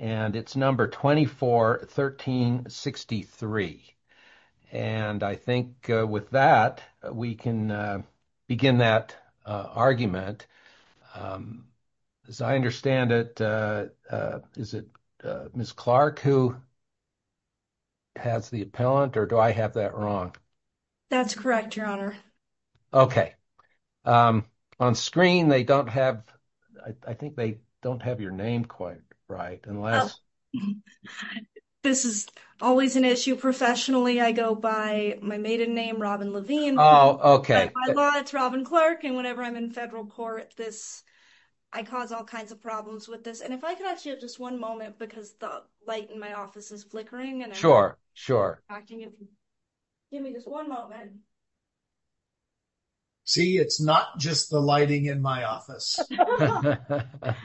And it's number 241363. And I think with that, we can begin that argument. As I understand it, is it Ms. Clark who has the appellant or do I have that wrong? That's correct, Your Honor. Okay. On screen, they don't have, I think they don't have your name quite right, unless... This is always an issue. Professionally, I go by my maiden name, Robin Levine. Oh, okay. By law, it's Robin Clark. And whenever I'm in federal court, this, I cause all kinds of problems with this. And if I could ask you just one moment, because the light in my office is flickering. Sure, sure. Give me just one moment. See, it's not just the lighting in my office. I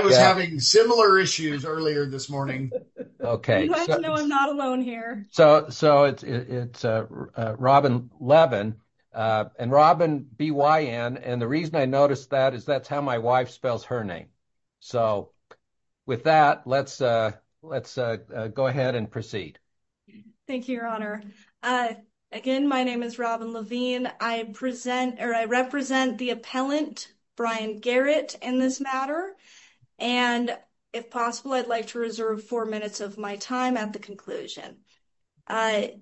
was having similar issues earlier this morning. Okay. You have to know I'm not alone here. So, it's Robin Levin. And Robin, B-Y-N. And the reason I noticed that is that's how my wife spells her name. So, with that, let's go ahead and proceed. Thank you, Your Honor. Again, my name is Robin Levine. I represent the appellant, Brian Garrett, in this matter. And if possible, I'd like to reserve four minutes of my time at the conclusion. May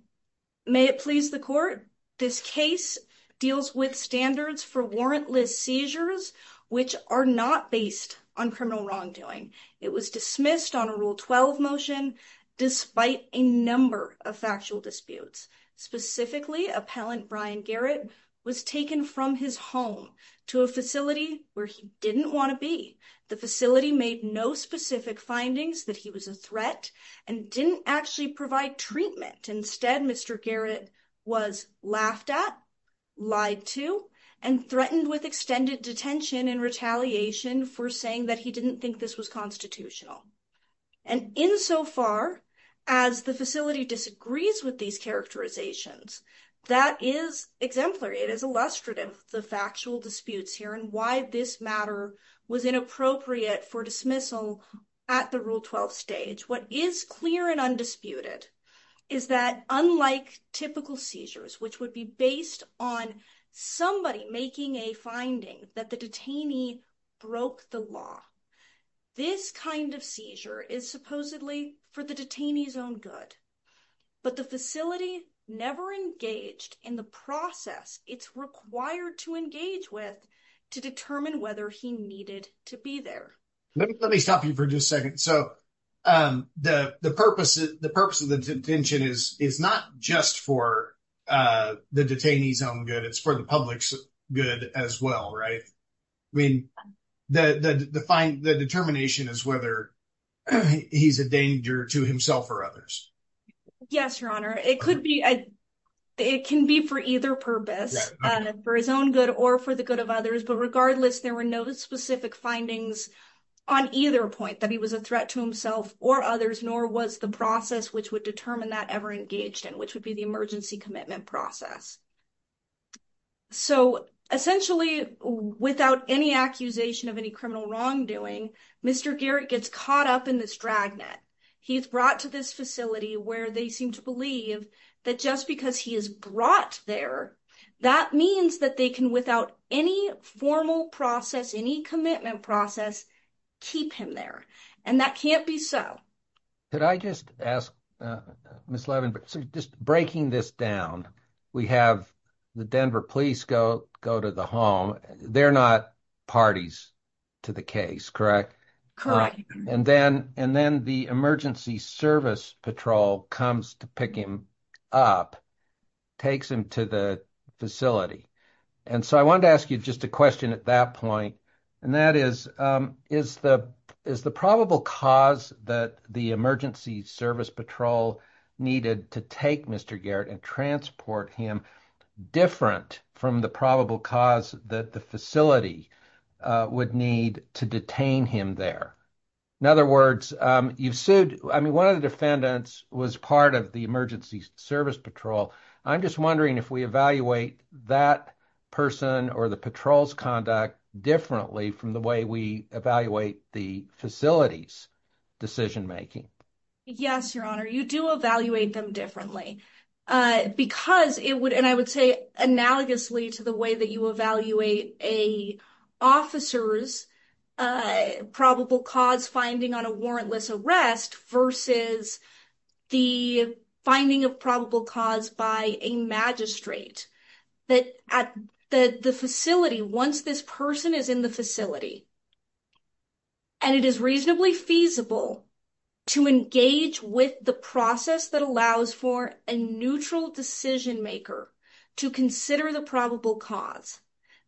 it please the court, this case deals with standards for warrantless seizures, which are not based on criminal wrongdoing. It was dismissed on a Rule 12 motion, despite a number of factual disputes. Specifically, appellant Brian Garrett was taken from his home to a facility where he didn't want to be. The facility made no specific findings that he was a threat and didn't actually provide treatment. Instead, Mr. Garrett was laughed at, lied to, and threatened with extended detention and retaliation for saying that he didn't think this was constitutional. And insofar as the facility disagrees with these characterizations, that is exemplary. It is illustrative of the factual disputes here and why this matter was inappropriate for dismissal at the Rule 12 stage. What is clear and undisputed is that unlike typical seizures, which would be based on somebody making a finding that the detainee broke the law, this kind of seizure is supposedly for the detainee's own good. But the facility never engaged in the process it's required to engage with to determine whether he needed to be there. Let me stop you for just a second. So the purpose of the detention is not just for the detainee's own good. It's for the public's good as well, right? I mean, the determination is whether he's a danger to himself or others. Yes, Your Honor. It can be for either purpose, for his own good or for the good of others. But regardless, there were no specific findings on either point that he was a threat to himself or others, nor was the process which would determine that ever engaged in, which would be the emergency commitment process. So essentially, without any accusation of any criminal wrongdoing, Mr. Garrett gets caught up in this dragnet. He's brought to this facility where they seem to believe that just because he is brought there, that means that they can, without any formal process, any commitment process, keep him there. And that can't be so. Could I just ask, Ms. Levin, just breaking this down, we have the Denver police go to the home. They're not parties to the case, correct? Correct. And then the emergency service patrol comes to pick him up, takes him to the facility. And so I wanted to ask you just a question at that point, and that is, is the probable cause that the emergency service patrol needed to take Mr. Garrett and transport him different from the probable cause that the facility would need to detain him there? In other words, you've sued, I mean, one of the defendants was part of the emergency service patrol. I'm just wondering if we evaluate that person or the patrol's conduct differently from the way we evaluate the facility's decision making. Yes, Your Honor. You do evaluate them differently. Because it would, and I would say analogously to the way that you evaluate an officer's probable cause finding on a warrantless arrest versus the finding of probable cause by a magistrate. The facility, once this person is in the facility, and it is reasonably feasible to engage with the process that allows for a neutral decision maker to consider the probable cause,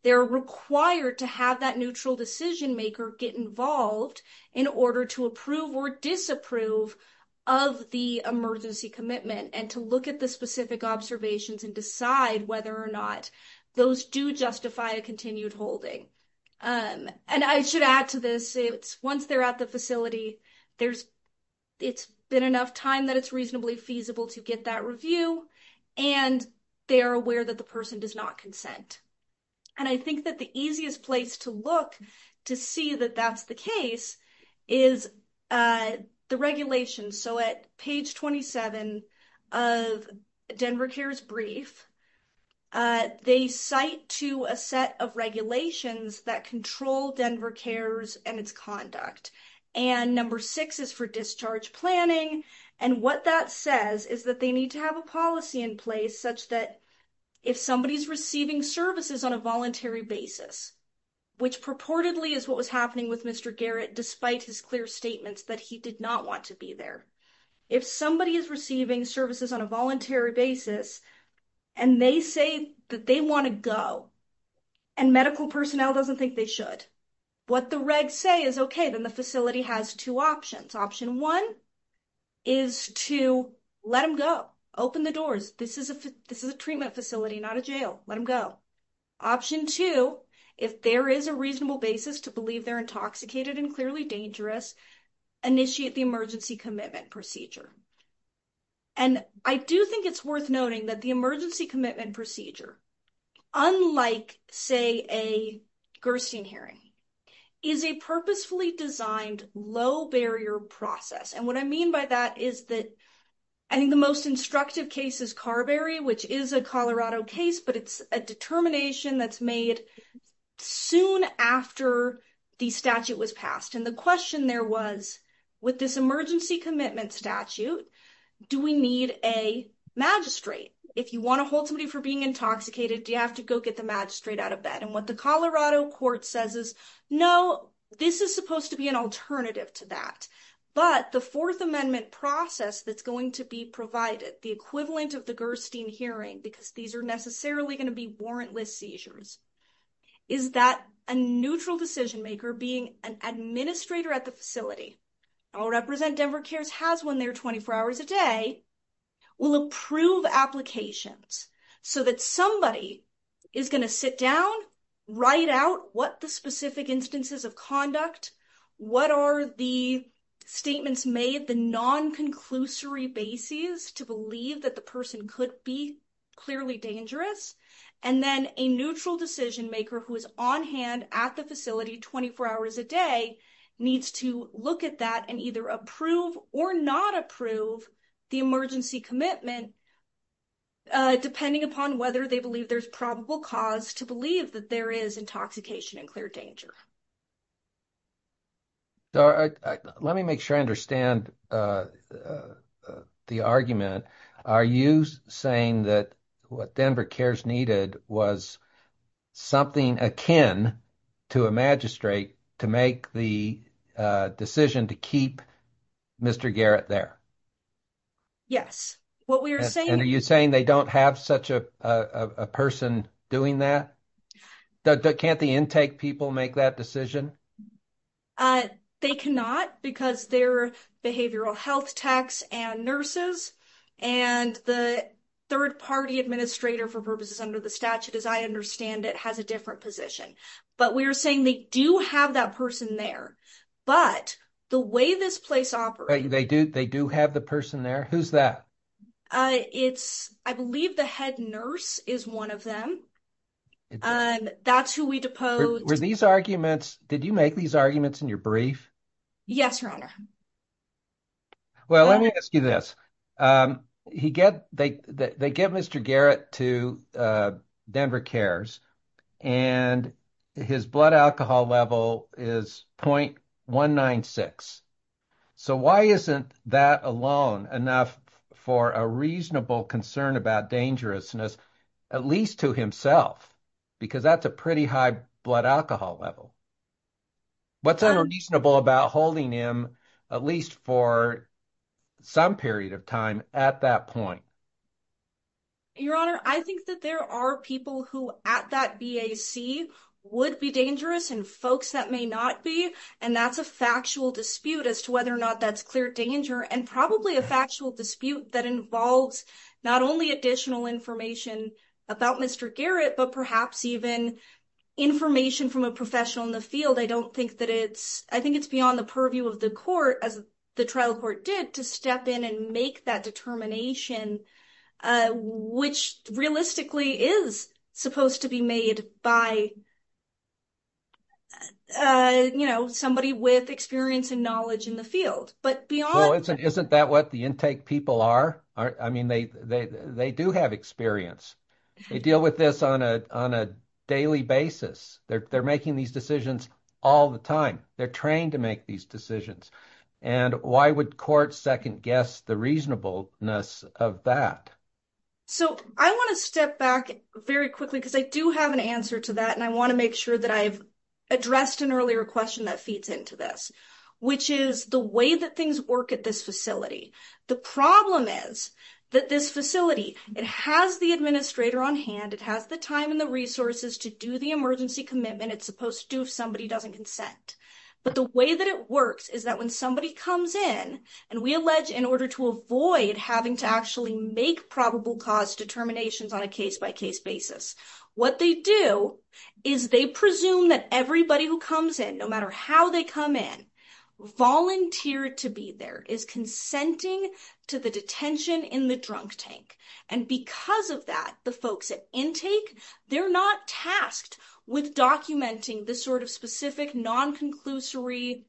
they're required to have that neutral decision maker get involved in order to approve or disapprove of the emergency commitment. And to look at the specific observations and decide whether or not those do justify a continued holding. And I should add to this, once they're at the facility, it's been enough time that it's reasonably feasible to get that review. And they are aware that the person does not consent. And I think that the easiest place to look to see that that's the case is the regulations. So at page 27 of Denver CARES brief, they cite to a set of regulations that control Denver CARES and its conduct. And number six is for discharge planning. And what that says is that they need to have a policy in place such that if somebody is receiving services on a voluntary basis, which purportedly is what was happening with Mr. Garrett, despite his clear statements that he did not want to be there. If somebody is receiving services on a voluntary basis, and they say that they want to go, and medical personnel doesn't think they should. What the regs say is, okay, then the facility has two options. Option one is to let them go. Open the doors. This is a treatment facility, not a jail. Let them go. Option two, if there is a reasonable basis to believe they're intoxicated and clearly dangerous, initiate the emergency commitment procedure. And I do think it's worth noting that the emergency commitment procedure, unlike, say, a Gerstein hearing, is a purposefully designed low barrier process. And what I mean by that is that I think the most instructive case is Carberry, which is a Colorado case, but it's a determination that's made soon after the statute was passed. And the question there was, with this emergency commitment statute, do we need a magistrate? If you want to hold somebody for being intoxicated, do you have to go get the magistrate out of bed? And what the Colorado court says is, no, this is supposed to be an alternative to that. But the Fourth Amendment process that's going to be provided, the equivalent of the Gerstein hearing, because these are necessarily going to be warrantless seizures, is that a neutral decision maker being an administrator at the facility, I'll represent Denver CARES has one there 24 hours a day, will approve applications so that somebody is going to sit down, write out what the specific instances of conduct, what are the statements made, the non-conclusory basis to believe that the person could be clearly dangerous, and then a neutral decision maker who is on hand at the facility 24 hours a day needs to look at that and either approve or not approve the emergency commitment, depending upon whether they believe there's probable cause to believe that there is intoxication and clear danger. Let me make sure I understand the argument. Are you saying that what Denver CARES needed was something akin to a magistrate to make the decision to keep Mr. Garrett there? Yes. And are you saying they don't have such a person doing that? Can't the intake people make that decision? They cannot because they're behavioral health techs and nurses, and the third party administrator for purposes under the statute, as I understand it, has a different position. But we are saying they do have that person there. But the way this place operates... They do have the person there. Who's that? I believe the head nurse is one of them. That's who we deposed. Did you make these arguments in your brief? Yes, Your Honor. Well, let me ask you this. They get Mr. Garrett to Denver CARES, and his blood alcohol level is 0.196. So why isn't that alone enough for a reasonable concern about dangerousness, at least to himself? Because that's a pretty high blood alcohol level. What's unreasonable about holding him, at least for some period of time, at that point? Your Honor, I think that there are people who at that BAC would be dangerous and folks that may not be. And that's a factual dispute as to whether or not that's clear danger and probably a factual dispute that involves not only additional information about Mr. Garrett, but perhaps even information from a professional in the field. I don't think that it's... I think it's beyond the purview of the court, as the trial court did, to step in and make that determination, which realistically is supposed to be made by somebody with experience and knowledge in the field. But beyond... Well, isn't that what the intake people are? I mean, they do have experience. They deal with this on a daily basis. They're making these decisions all the time. They're trained to make these decisions. And why would court second-guess the reasonableness of that? So I want to step back very quickly because I do have an answer to that. And I want to make sure that I've addressed an earlier question that feeds into this, which is the way that things work at this facility. The problem is that this facility, it has the administrator on hand. It has the time and the resources to do the emergency commitment it's supposed to do if somebody doesn't consent. But the way that it works is that when somebody comes in, and we allege in order to avoid having to actually make probable cause determinations on a case-by-case basis, what they do is they presume that everybody who comes in, no matter how they come in, volunteered to be there. Is consenting to the detention in the drunk tank. And because of that, the folks at intake, they're not tasked with documenting the sort of specific non-conclusory,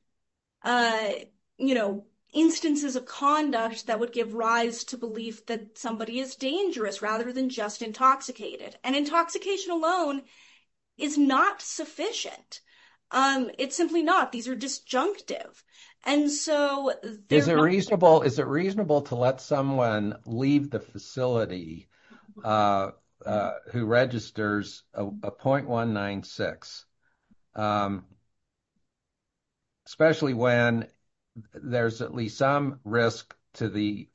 you know, instances of conduct that would give rise to belief that somebody is dangerous rather than just intoxicated. And intoxication alone is not sufficient. It's simply not. These are disjunctive. Is it reasonable to let someone leave the facility who registers a .196, especially when there's at least some risk to the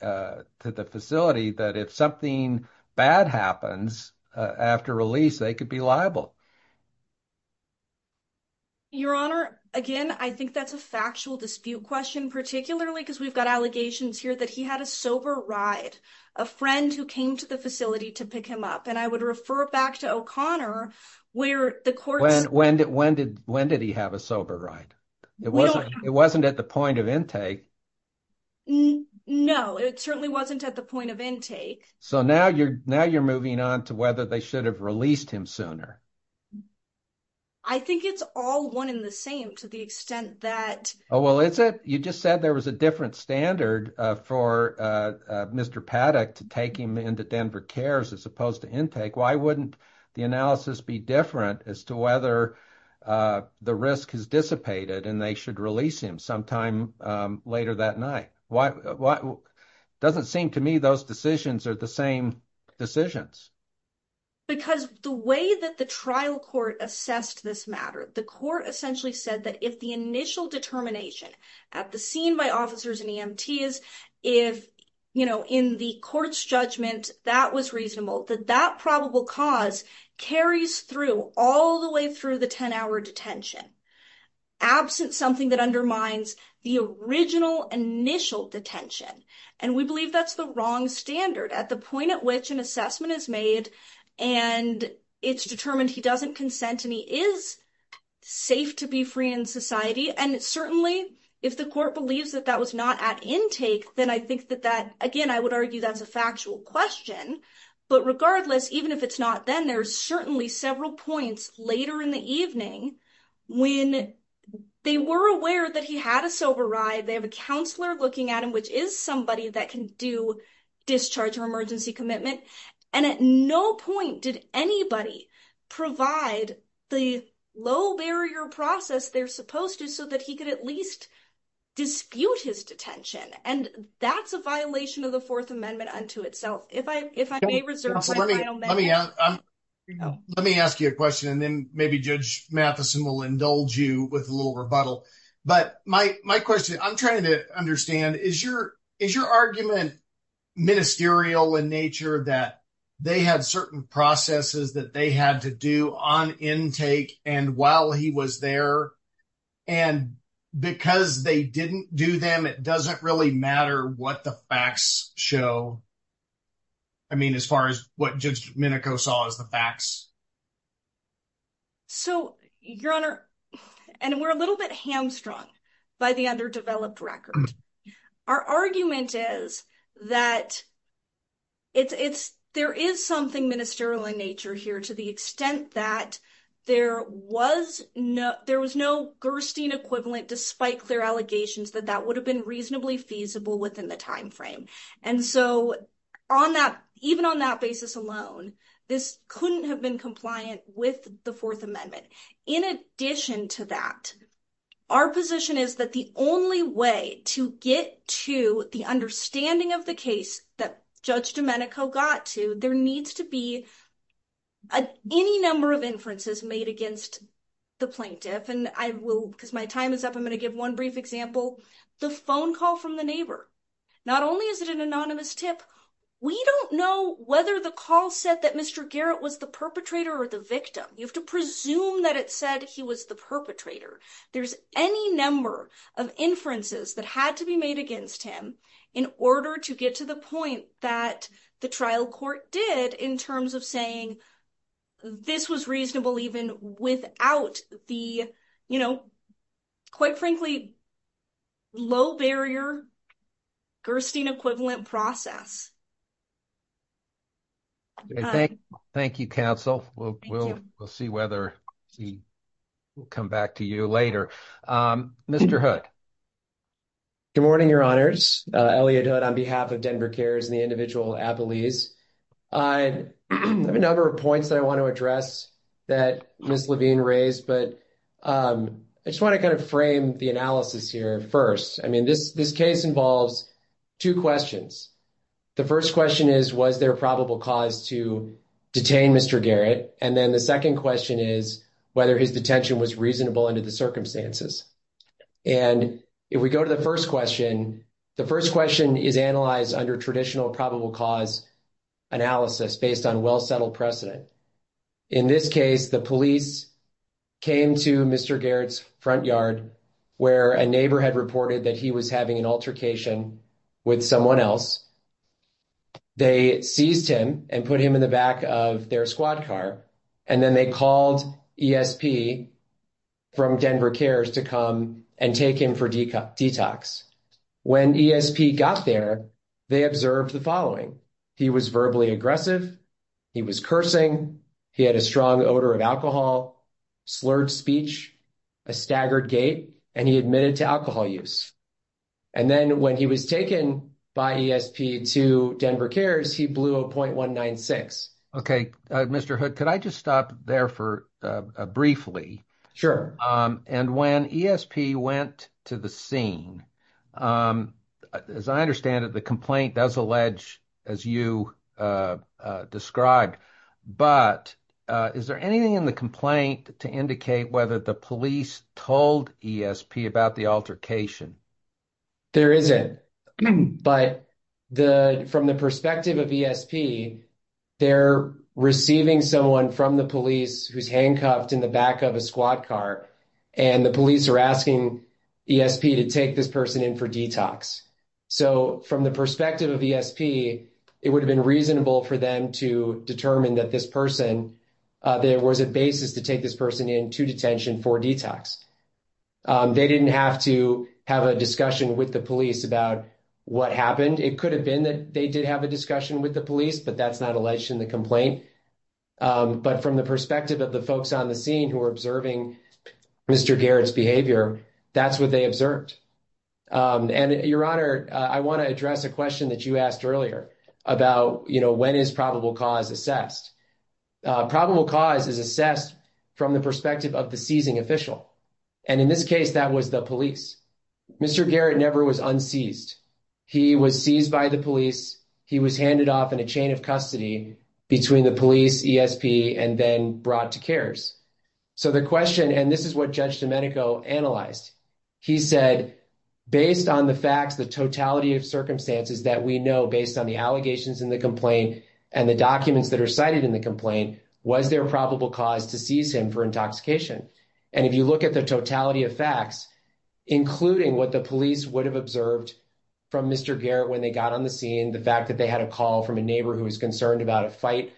facility that if something bad happens after release, they could be liable? Your Honor, again, I think that's a factual dispute question, particularly because we've got allegations here that he had a sober ride. A friend who came to the facility to pick him up. And I would refer back to O'Connor where the courts. When did he have a sober ride? It wasn't at the point of intake. No, it certainly wasn't at the point of intake. So now you're moving on to whether they should have released him sooner. I think it's all one in the same to the extent that. Oh, well, is it? You just said there was a different standard for Mr. Paddock to take him into Denver Cares as opposed to intake. Why wouldn't the analysis be different as to whether the risk has dissipated and they should release him sometime later that night? Doesn't seem to me those decisions are the same decisions. Because the way that the trial court assessed this matter, the court essentially said that if the initial determination at the scene by officers and EMTs, if, you know, in the court's judgment, that was reasonable, that that probable cause carries through all the way through the 10 hour detention. Absent something that undermines the original initial detention. And we believe that's the wrong standard. At the point at which an assessment is made and it's determined he doesn't consent and he is safe to be free in society. And certainly if the court believes that that was not at intake, then I think that that, again, I would argue that's a factual question. But regardless, even if it's not, then there's certainly several points later in the evening when they were aware that he had a sober ride. They have a counselor looking at him, which is somebody that can do discharge or emergency commitment. And at no point did anybody provide the low barrier process they're supposed to so that he could at least dispute his detention. And that's a violation of the Fourth Amendment unto itself. If I may reserve my final minute. Let me ask you a question and then maybe Judge Mathison will indulge you with a little rebuttal. But my question, I'm trying to understand, is your argument ministerial in nature that they had certain processes that they had to do on intake and while he was there? And because they didn't do them, it doesn't really matter what the facts show. I mean, as far as what Judge Minico saw as the facts. So, Your Honor, and we're a little bit hamstrung by the underdeveloped record. Our argument is that. It's it's there is something ministerial in nature here to the extent that there was no, there was no Gerstein equivalent, despite clear allegations that that would have been reasonably feasible within the timeframe. And so on that, even on that basis alone, this couldn't have been compliant with the Fourth Amendment. In addition to that, our position is that the only way to get to the understanding of the case that Judge Domenico got to, there needs to be any number of inferences made against. The plaintiff and I will, because my time is up, I'm going to give 1 brief example, the phone call from the neighbor. Not only is it an anonymous tip, we don't know whether the call said that Mr Garrett was the perpetrator or the victim. You have to presume that it said he was the perpetrator. There's any number of inferences that had to be made against him in order to get to the point that the trial court did in terms of saying. This was reasonable, even without the. Quite frankly, low barrier. Gerstein equivalent process. Thank you counsel. We'll, we'll, we'll see whether. We'll come back to you later. Mr. Hood. Good morning, your honors on behalf of Denver cares and the individual. I have a number of points that I want to address that Miss Levine raised, but I just want to kind of frame the analysis here. 1st, I mean, this, this case involves. 2 questions, the 1st question is, was there a probable cause to detain Mr Garrett? And then the 2nd question is whether his detention was reasonable under the circumstances. And if we go to the 1st question, the 1st question is analyzed under traditional probable cause. Analysis based on well, settled precedent. In this case, the police came to Mr Garrett's front yard. Where a neighbor had reported that he was having an altercation. With someone else, they seized him and put him in the back of their squad car. And then they called from Denver cares to come and take him for detox. When got there, they observed the following. He was verbally aggressive. He was cursing. He had a strong odor of alcohol. Slurred speech. A staggered gate, and he admitted to alcohol use. And then when he was taken by to Denver cares, he blew a 0.196. Okay, Mr. could I just stop there for briefly? And when went to the scene. As I understand it, the complaint does allege. As you described, but is there anything in the complaint to indicate whether the police told ESP about the altercation? There is it, but. From the perspective of ESP, they're receiving someone from the police who's handcuffed in the back of a squad car. And the police are asking ESP to take this person in for detox. So, from the perspective of ESP, it would have been reasonable for them to determine that this person. There was a basis to take this person into detention for detox. They didn't have to have a discussion with the police about what happened. It could have been that they did have a discussion with the police, but that's not alleged in the complaint. But from the perspective of the folks on the scene who are observing Mr. Garrett's behavior, that's what they observed. And your honor, I want to address a question that you asked earlier about when is probable cause assessed. Probable cause is assessed from the perspective of the seizing official. And in this case, that was the police. Mr. Garrett never was unseized. He was seized by the police. He was handed off in a chain of custody between the police, ESP, and then brought to CARES. So, the question, and this is what Judge Domenico analyzed. He said, based on the facts, the totality of circumstances that we know, based on the allegations in the complaint, and the documents that are cited in the complaint, was there probable cause to seize him for intoxication? And if you look at the totality of facts, including what the police would have observed from Mr. Garrett when they got on the scene, the fact that they had a call from a neighbor who was concerned about a fight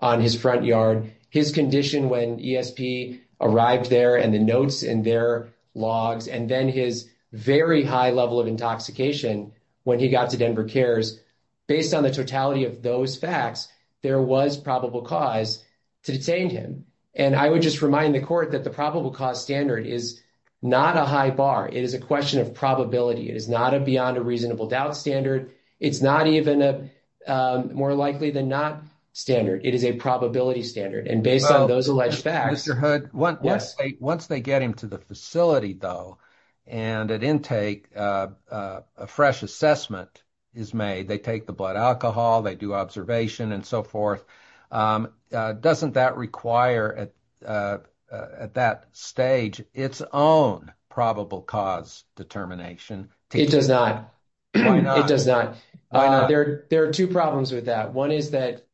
on his front yard, his condition when ESP arrived there, and the notes in their logs, and then his very high level of intoxication when he got to Denver CARES, based on the totality of those facts, there was probable cause to detain him. And I would just remind the court that the probable cause standard is not a high bar. It is a question of probability. It is not a beyond a reasonable doubt standard. It's not even more likely than not standard. It is a probability standard. And based on those alleged facts. Mr. Hood, once they get him to the facility, though, and at intake a fresh assessment is made, they take the blood alcohol, they do observation, and so forth, doesn't that require at that stage its own probable cause determination? It does not. Why not? It does not. Why not? There are two problems with that. One is that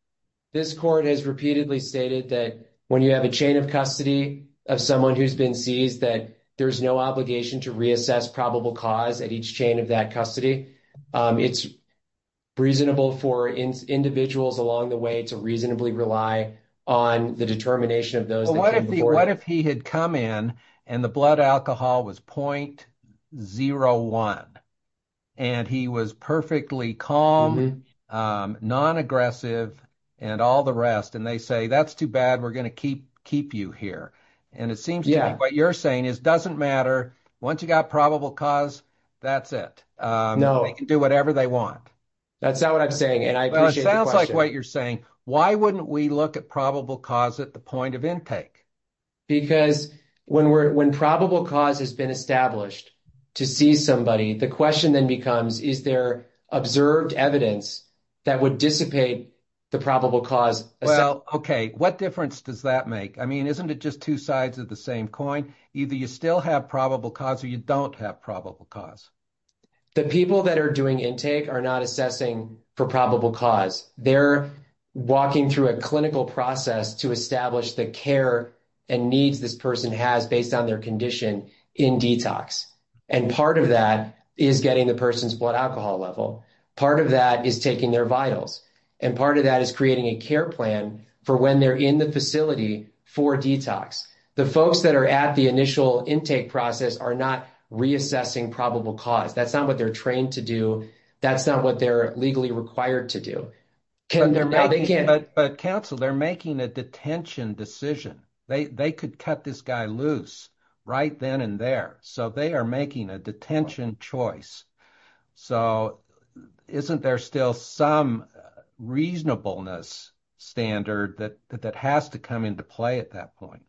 this court has repeatedly stated that when you have a chain of custody of someone who's been seized, that there's no obligation to reassess probable cause at each chain of that custody. It's reasonable for individuals along the way to reasonably rely on the determination of those. But what if he had come in and the blood alcohol was 0.01, and he was perfectly calm, non-aggressive, and all the rest, and they say, that's too bad, we're going to keep you here. And it seems to me what you're saying is doesn't matter. Once you got probable cause, that's it. No. They can do whatever they want. That's not what I'm saying, and I appreciate the question. I'm saying, why wouldn't we look at probable cause at the point of intake? Because when probable cause has been established to seize somebody, the question then becomes, is there observed evidence that would dissipate the probable cause? Well, okay, what difference does that make? I mean, isn't it just two sides of the same coin? Either you still have probable cause or you don't have probable cause. The people that are doing intake are not assessing for probable cause. They're walking through a clinical process to establish the care and needs this person has based on their condition in detox. And part of that is getting the person's blood alcohol level. Part of that is taking their vitals. And part of that is creating a care plan for when they're in the facility for detox. The folks that are at the initial intake process are not reassessing probable cause. That's not what they're trained to do. That's not what they're legally required to do. But counsel, they're making a detention decision. They could cut this guy loose right then and there. So they are making a detention choice. So isn't there still some reasonableness standard that has to come into play at that point?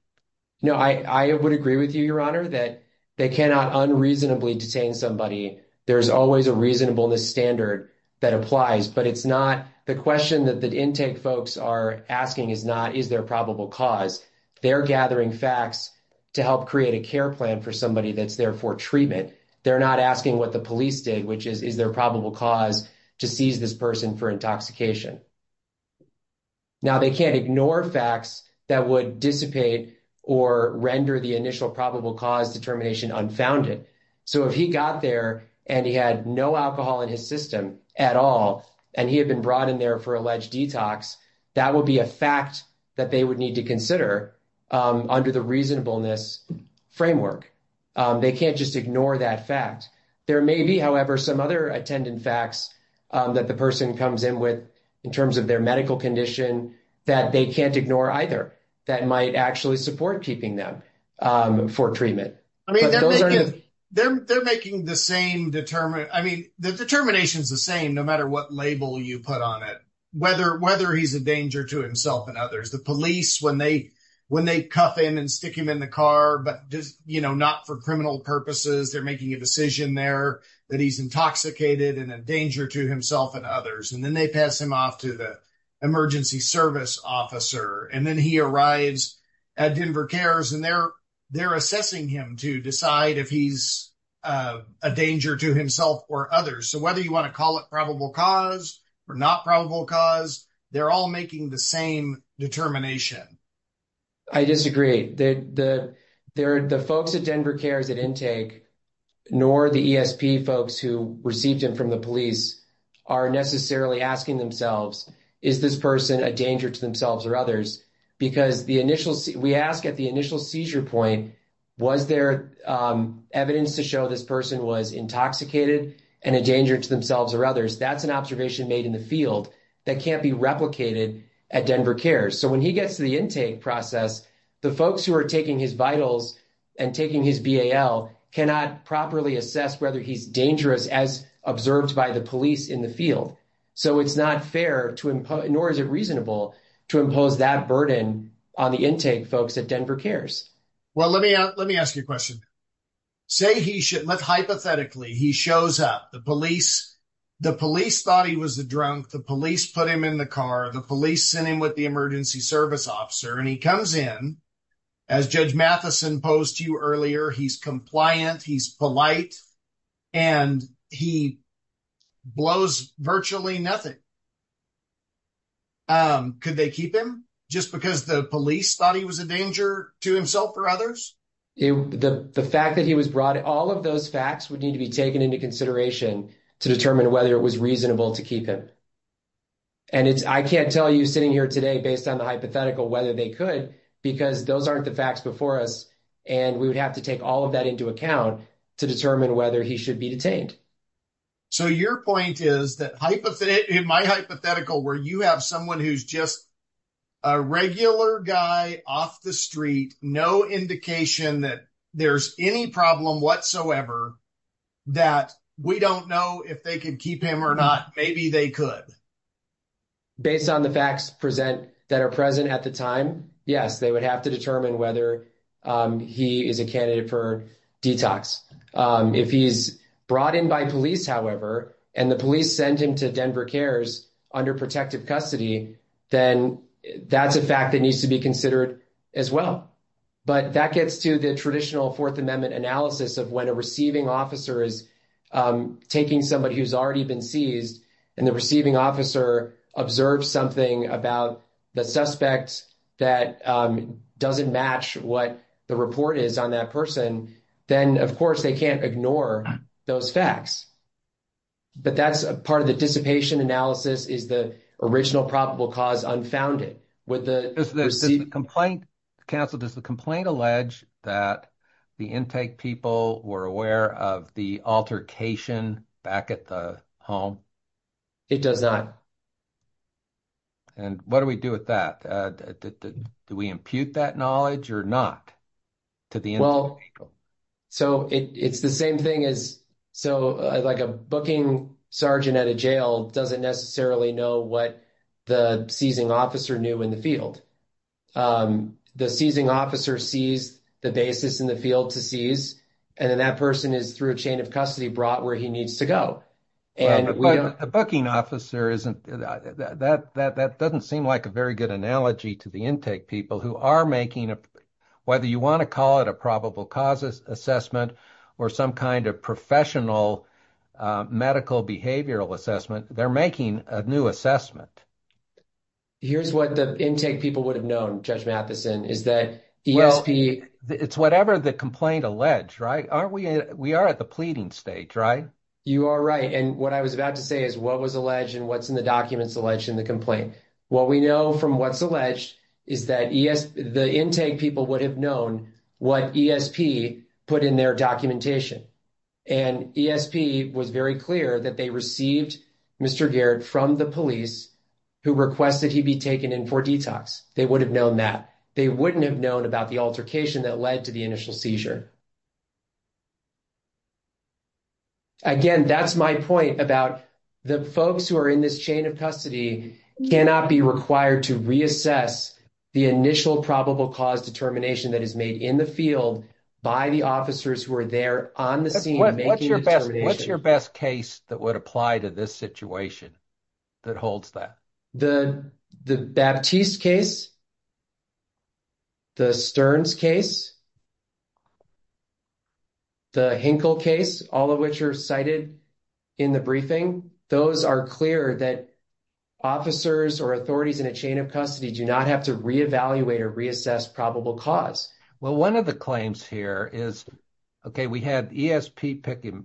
No, I would agree with you, Your Honor, that they cannot unreasonably detain somebody. There's always a reasonableness standard that applies. But it's not the question that the intake folks are asking is not is there probable cause. They're gathering facts to help create a care plan for somebody that's there for treatment. They're not asking what the police did, which is is there probable cause to seize this person for intoxication. Now, they can't ignore facts that would dissipate or render the initial probable cause determination unfounded. So if he got there and he had no alcohol in his system at all and he had been brought in there for alleged detox, that would be a fact that they would need to consider under the reasonableness framework. They can't just ignore that fact. There may be, however, some other attendant facts that the person comes in with in terms of their medical condition that they can't ignore either. That might actually support keeping them for treatment. I mean, they're making the same determination. I mean, the determination is the same no matter what label you put on it, whether whether he's a danger to himself and others. The police, when they when they cuff him and stick him in the car, but, you know, not for criminal purposes. They're making a decision there that he's intoxicated and a danger to himself and others. And then they pass him off to the emergency service officer. And then he arrives at Denver Cares and they're they're assessing him to decide if he's a danger to himself or others. So whether you want to call it probable cause or not probable cause, they're all making the same determination. I disagree that the there are the folks at Denver Cares at intake, nor the ESP folks who received him from the police are necessarily asking themselves, is this person a danger to themselves or others? Because the initial we ask at the initial seizure point, was there evidence to show this person was intoxicated and a danger to themselves or others? That's an observation made in the field that can't be replicated at Denver Cares. So when he gets to the intake process, the folks who are taking his vitals and taking his BAL cannot properly assess whether he's dangerous, as observed by the police in the field. So it's not fair to him, nor is it reasonable to impose that burden on the intake folks at Denver Cares. Well, let me let me ask you a question. Hypothetically, he shows up, the police, the police thought he was a drunk, the police put him in the car, the police sent him with the emergency service officer, and he comes in, as Judge Matheson posed to you earlier, he's compliant, he's polite, and he blows virtually nothing. Could they keep him just because the police thought he was a danger to himself or others? The fact that he was brought in, all of those facts would need to be taken into consideration to determine whether it was reasonable to keep him. And it's I can't tell you sitting here today based on the hypothetical whether they could, because those aren't the facts before us, and we would have to take all of that into account to determine whether he should be detained. So your point is that, in my hypothetical, where you have someone who's just a regular guy off the street, no indication that there's any problem whatsoever, that we don't know if they can keep him or not, maybe they could. Based on the facts present that are present at the time, yes, they would have to determine whether he is a candidate for detox. If he's brought in by police, however, and the police send him to Denver Cares under protective custody, then that's a fact that needs to be considered as well. But that gets to the traditional Fourth Amendment analysis of when a receiving officer is taking somebody who's already been seized and the receiving officer observes something about the suspect that doesn't match what the report is on that person, then, of course, they can't ignore those facts. But that's part of the dissipation analysis is the original probable cause unfounded. Counsel, does the complaint allege that the intake people were aware of the altercation back at the home? It does not. And what do we do with that? Do we impute that knowledge or not to the intake people? So it's the same thing as so like a booking sergeant at a jail doesn't necessarily know what the seizing officer knew in the field. The seizing officer sees the basis in the field to seize, and then that person is through a chain of custody brought where he needs to go. A booking officer isn't that that that doesn't seem like a very good analogy to the intake people who are making up whether you want to call it a probable causes assessment or some kind of professional medical behavioral assessment. They're making a new assessment. Here's what the intake people would have known. Judge Matheson is that ESP. It's whatever the complaint allege, right? Aren't we? We are at the pleading stage, right? And what I was about to say is what was alleged and what's in the documents alleged in the complaint. What we know from what's alleged is that the intake people would have known what ESP put in their documentation. And ESP was very clear that they received Mr. Garrett from the police who requested he be taken in for detox. They would have known that they wouldn't have known about the altercation that led to the initial seizure. Again, that's my point about the folks who are in this chain of custody cannot be required to reassess the initial probable cause determination that is made in the field by the officers who are there on the scene. What's your best? What's your best case that would apply to this situation? That holds that the Baptiste case. The Stearns case. The Hinkle case, all of which are cited in the briefing. Those are clear that officers or authorities in a chain of custody do not have to reevaluate or reassess probable cause. Well, one of the claims here is, okay, we had ESP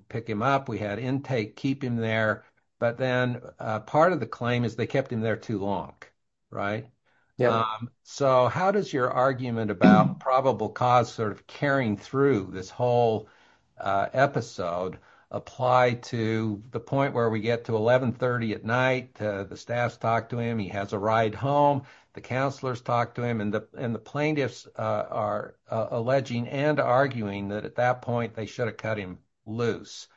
pick him up. We had intake keep him there. But then part of the claim is they kept him there too long. Right. Yeah. So how does your argument about probable cause sort of carrying through this whole episode apply to the point where we get to 1130 at night? The staffs talk to him. He has a ride home. The counselors talk to him and the plaintiffs are alleging and arguing that at that point they should have cut him loose.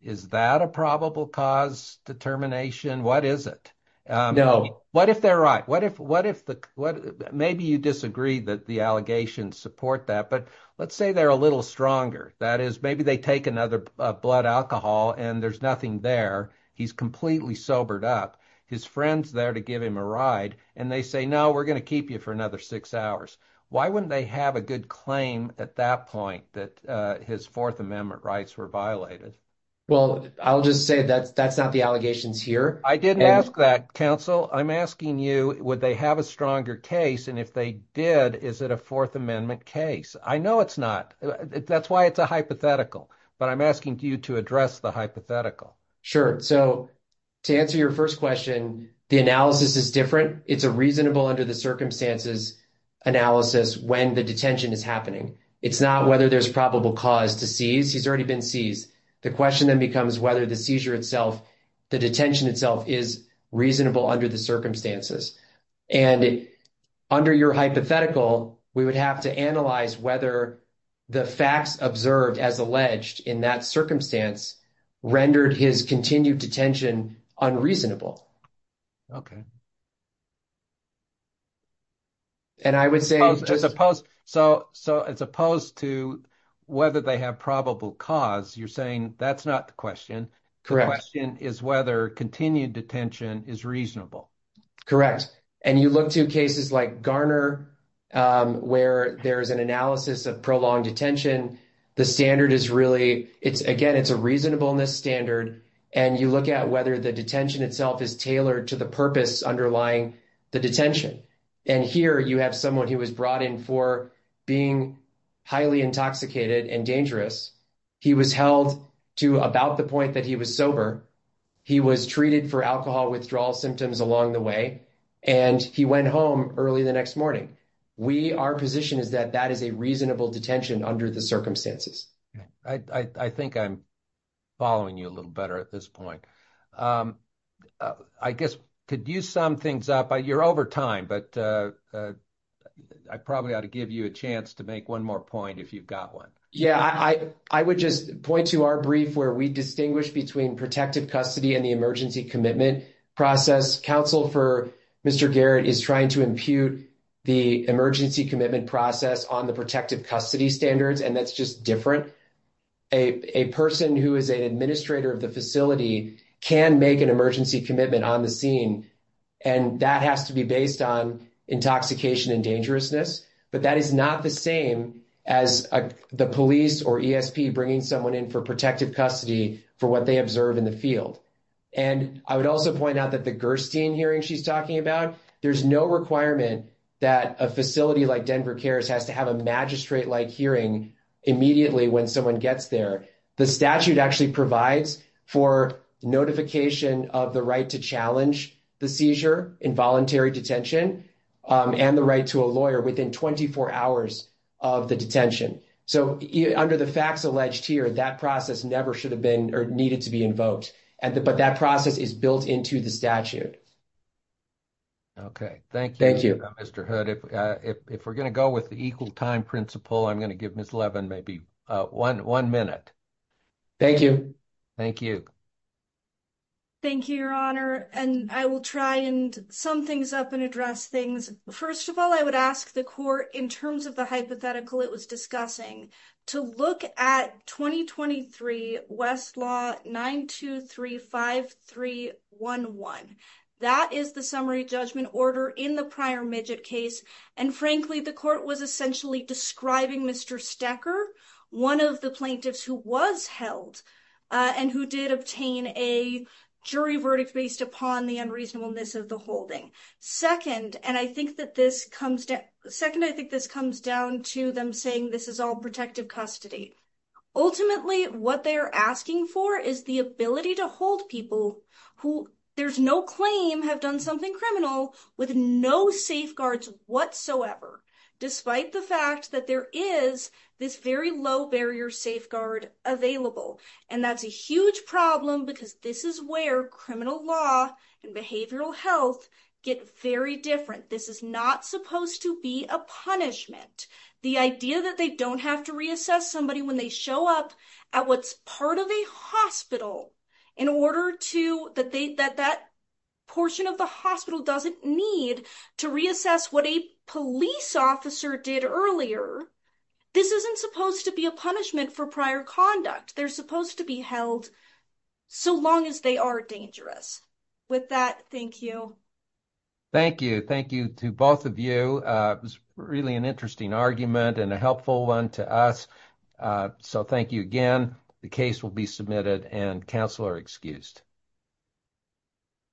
Is that a probable cause determination? What is it? No. What if they're right? What if the, maybe you disagree that the allegations support that, but let's say they're a little stronger. That is, maybe they take another blood alcohol and there's nothing there. He's completely sobered up. His friend's there to give him a ride and they say, no, we're going to keep you for another six hours. Why wouldn't they have a good claim at that point that his Fourth Amendment rights were violated? Well, I'll just say that's not the allegations here. I didn't ask that, counsel. I'm asking you, would they have a stronger case? And if they did, is it a Fourth Amendment case? I know it's not. That's why it's a hypothetical. But I'm asking you to address the hypothetical. Sure. So to answer your first question, the analysis is different. It's a reasonable under the circumstances analysis when the detention is happening. It's not whether there's probable cause to seize. He's already been seized. The question then becomes whether the seizure itself, the detention itself is reasonable under the circumstances. And under your hypothetical, we would have to analyze whether the facts observed as alleged in that circumstance rendered his continued detention unreasonable. And I would say. So as opposed to whether they have probable cause, you're saying that's not the question. The question is whether continued detention is reasonable. Correct. And you look to cases like Garner where there is an analysis of prolonged detention. The standard is really it's again, it's a reasonableness standard. And you look at whether the detention itself is tailored to the purpose underlying the detention. And here you have someone who was brought in for being highly intoxicated and dangerous. He was held to about the point that he was sober. He was treated for alcohol withdrawal symptoms along the way. And he went home early the next morning. We, our position is that that is a reasonable detention under the circumstances. I think I'm following you a little better at this point. I guess to do some things up, you're over time, but I probably ought to give you a chance to make one more point if you've got one. Yeah, I would just point to our brief where we distinguish between protective custody and the emergency commitment process. Counsel for Mr. Garrett is trying to impute the emergency commitment process on the protective custody standards. And that's just different. A person who is an administrator of the facility can make an emergency commitment on the scene. And that has to be based on intoxication and dangerousness. But that is not the same as the police or ESP bringing someone in for protective custody for what they observe in the field. And I would also point out that the Gerstein hearing she's talking about, there's no requirement that a facility like Denver CARES has to have a magistrate-like hearing immediately when someone gets there. The statute actually provides for notification of the right to challenge the seizure in voluntary detention and the right to a lawyer within 24 hours of the detention. So under the facts alleged here, that process never should have been or needed to be invoked. But that process is built into the statute. Okay. Thank you, Mr. Hood. If we're going to go with the equal time principle, I'm going to give Ms. Levin maybe one minute. Thank you. Thank you. Thank you, Your Honor. And I will try and sum things up and address things. First of all, I would ask the court, in terms of the hypothetical it was discussing, to look at 2023 Westlaw 9235311. That is the summary judgment order in the prior Midget case. And frankly, the court was essentially describing Mr. Stecker, one of the plaintiffs who was held and who did obtain a jury verdict based upon the unreasonableness of the holding. Second, and I think that this comes down to them saying this is all protective custody. Ultimately, what they're asking for is the ability to hold people who there's no claim have done something criminal with no safeguards whatsoever. Despite the fact that there is this very low barrier safeguard available. And that's a huge problem because this is where criminal law and behavioral health get very different. This is not supposed to be a punishment. The idea that they don't have to reassess somebody when they show up at what's part of a hospital in order to that they that that portion of the hospital doesn't need to reassess what a police officer did earlier. This isn't supposed to be a punishment for prior conduct. They're supposed to be held so long as they are dangerous. With that, thank you. Thank you. Thank you to both of you. It was really an interesting argument and a helpful one to us. So thank you again. The case will be submitted and counselor excused.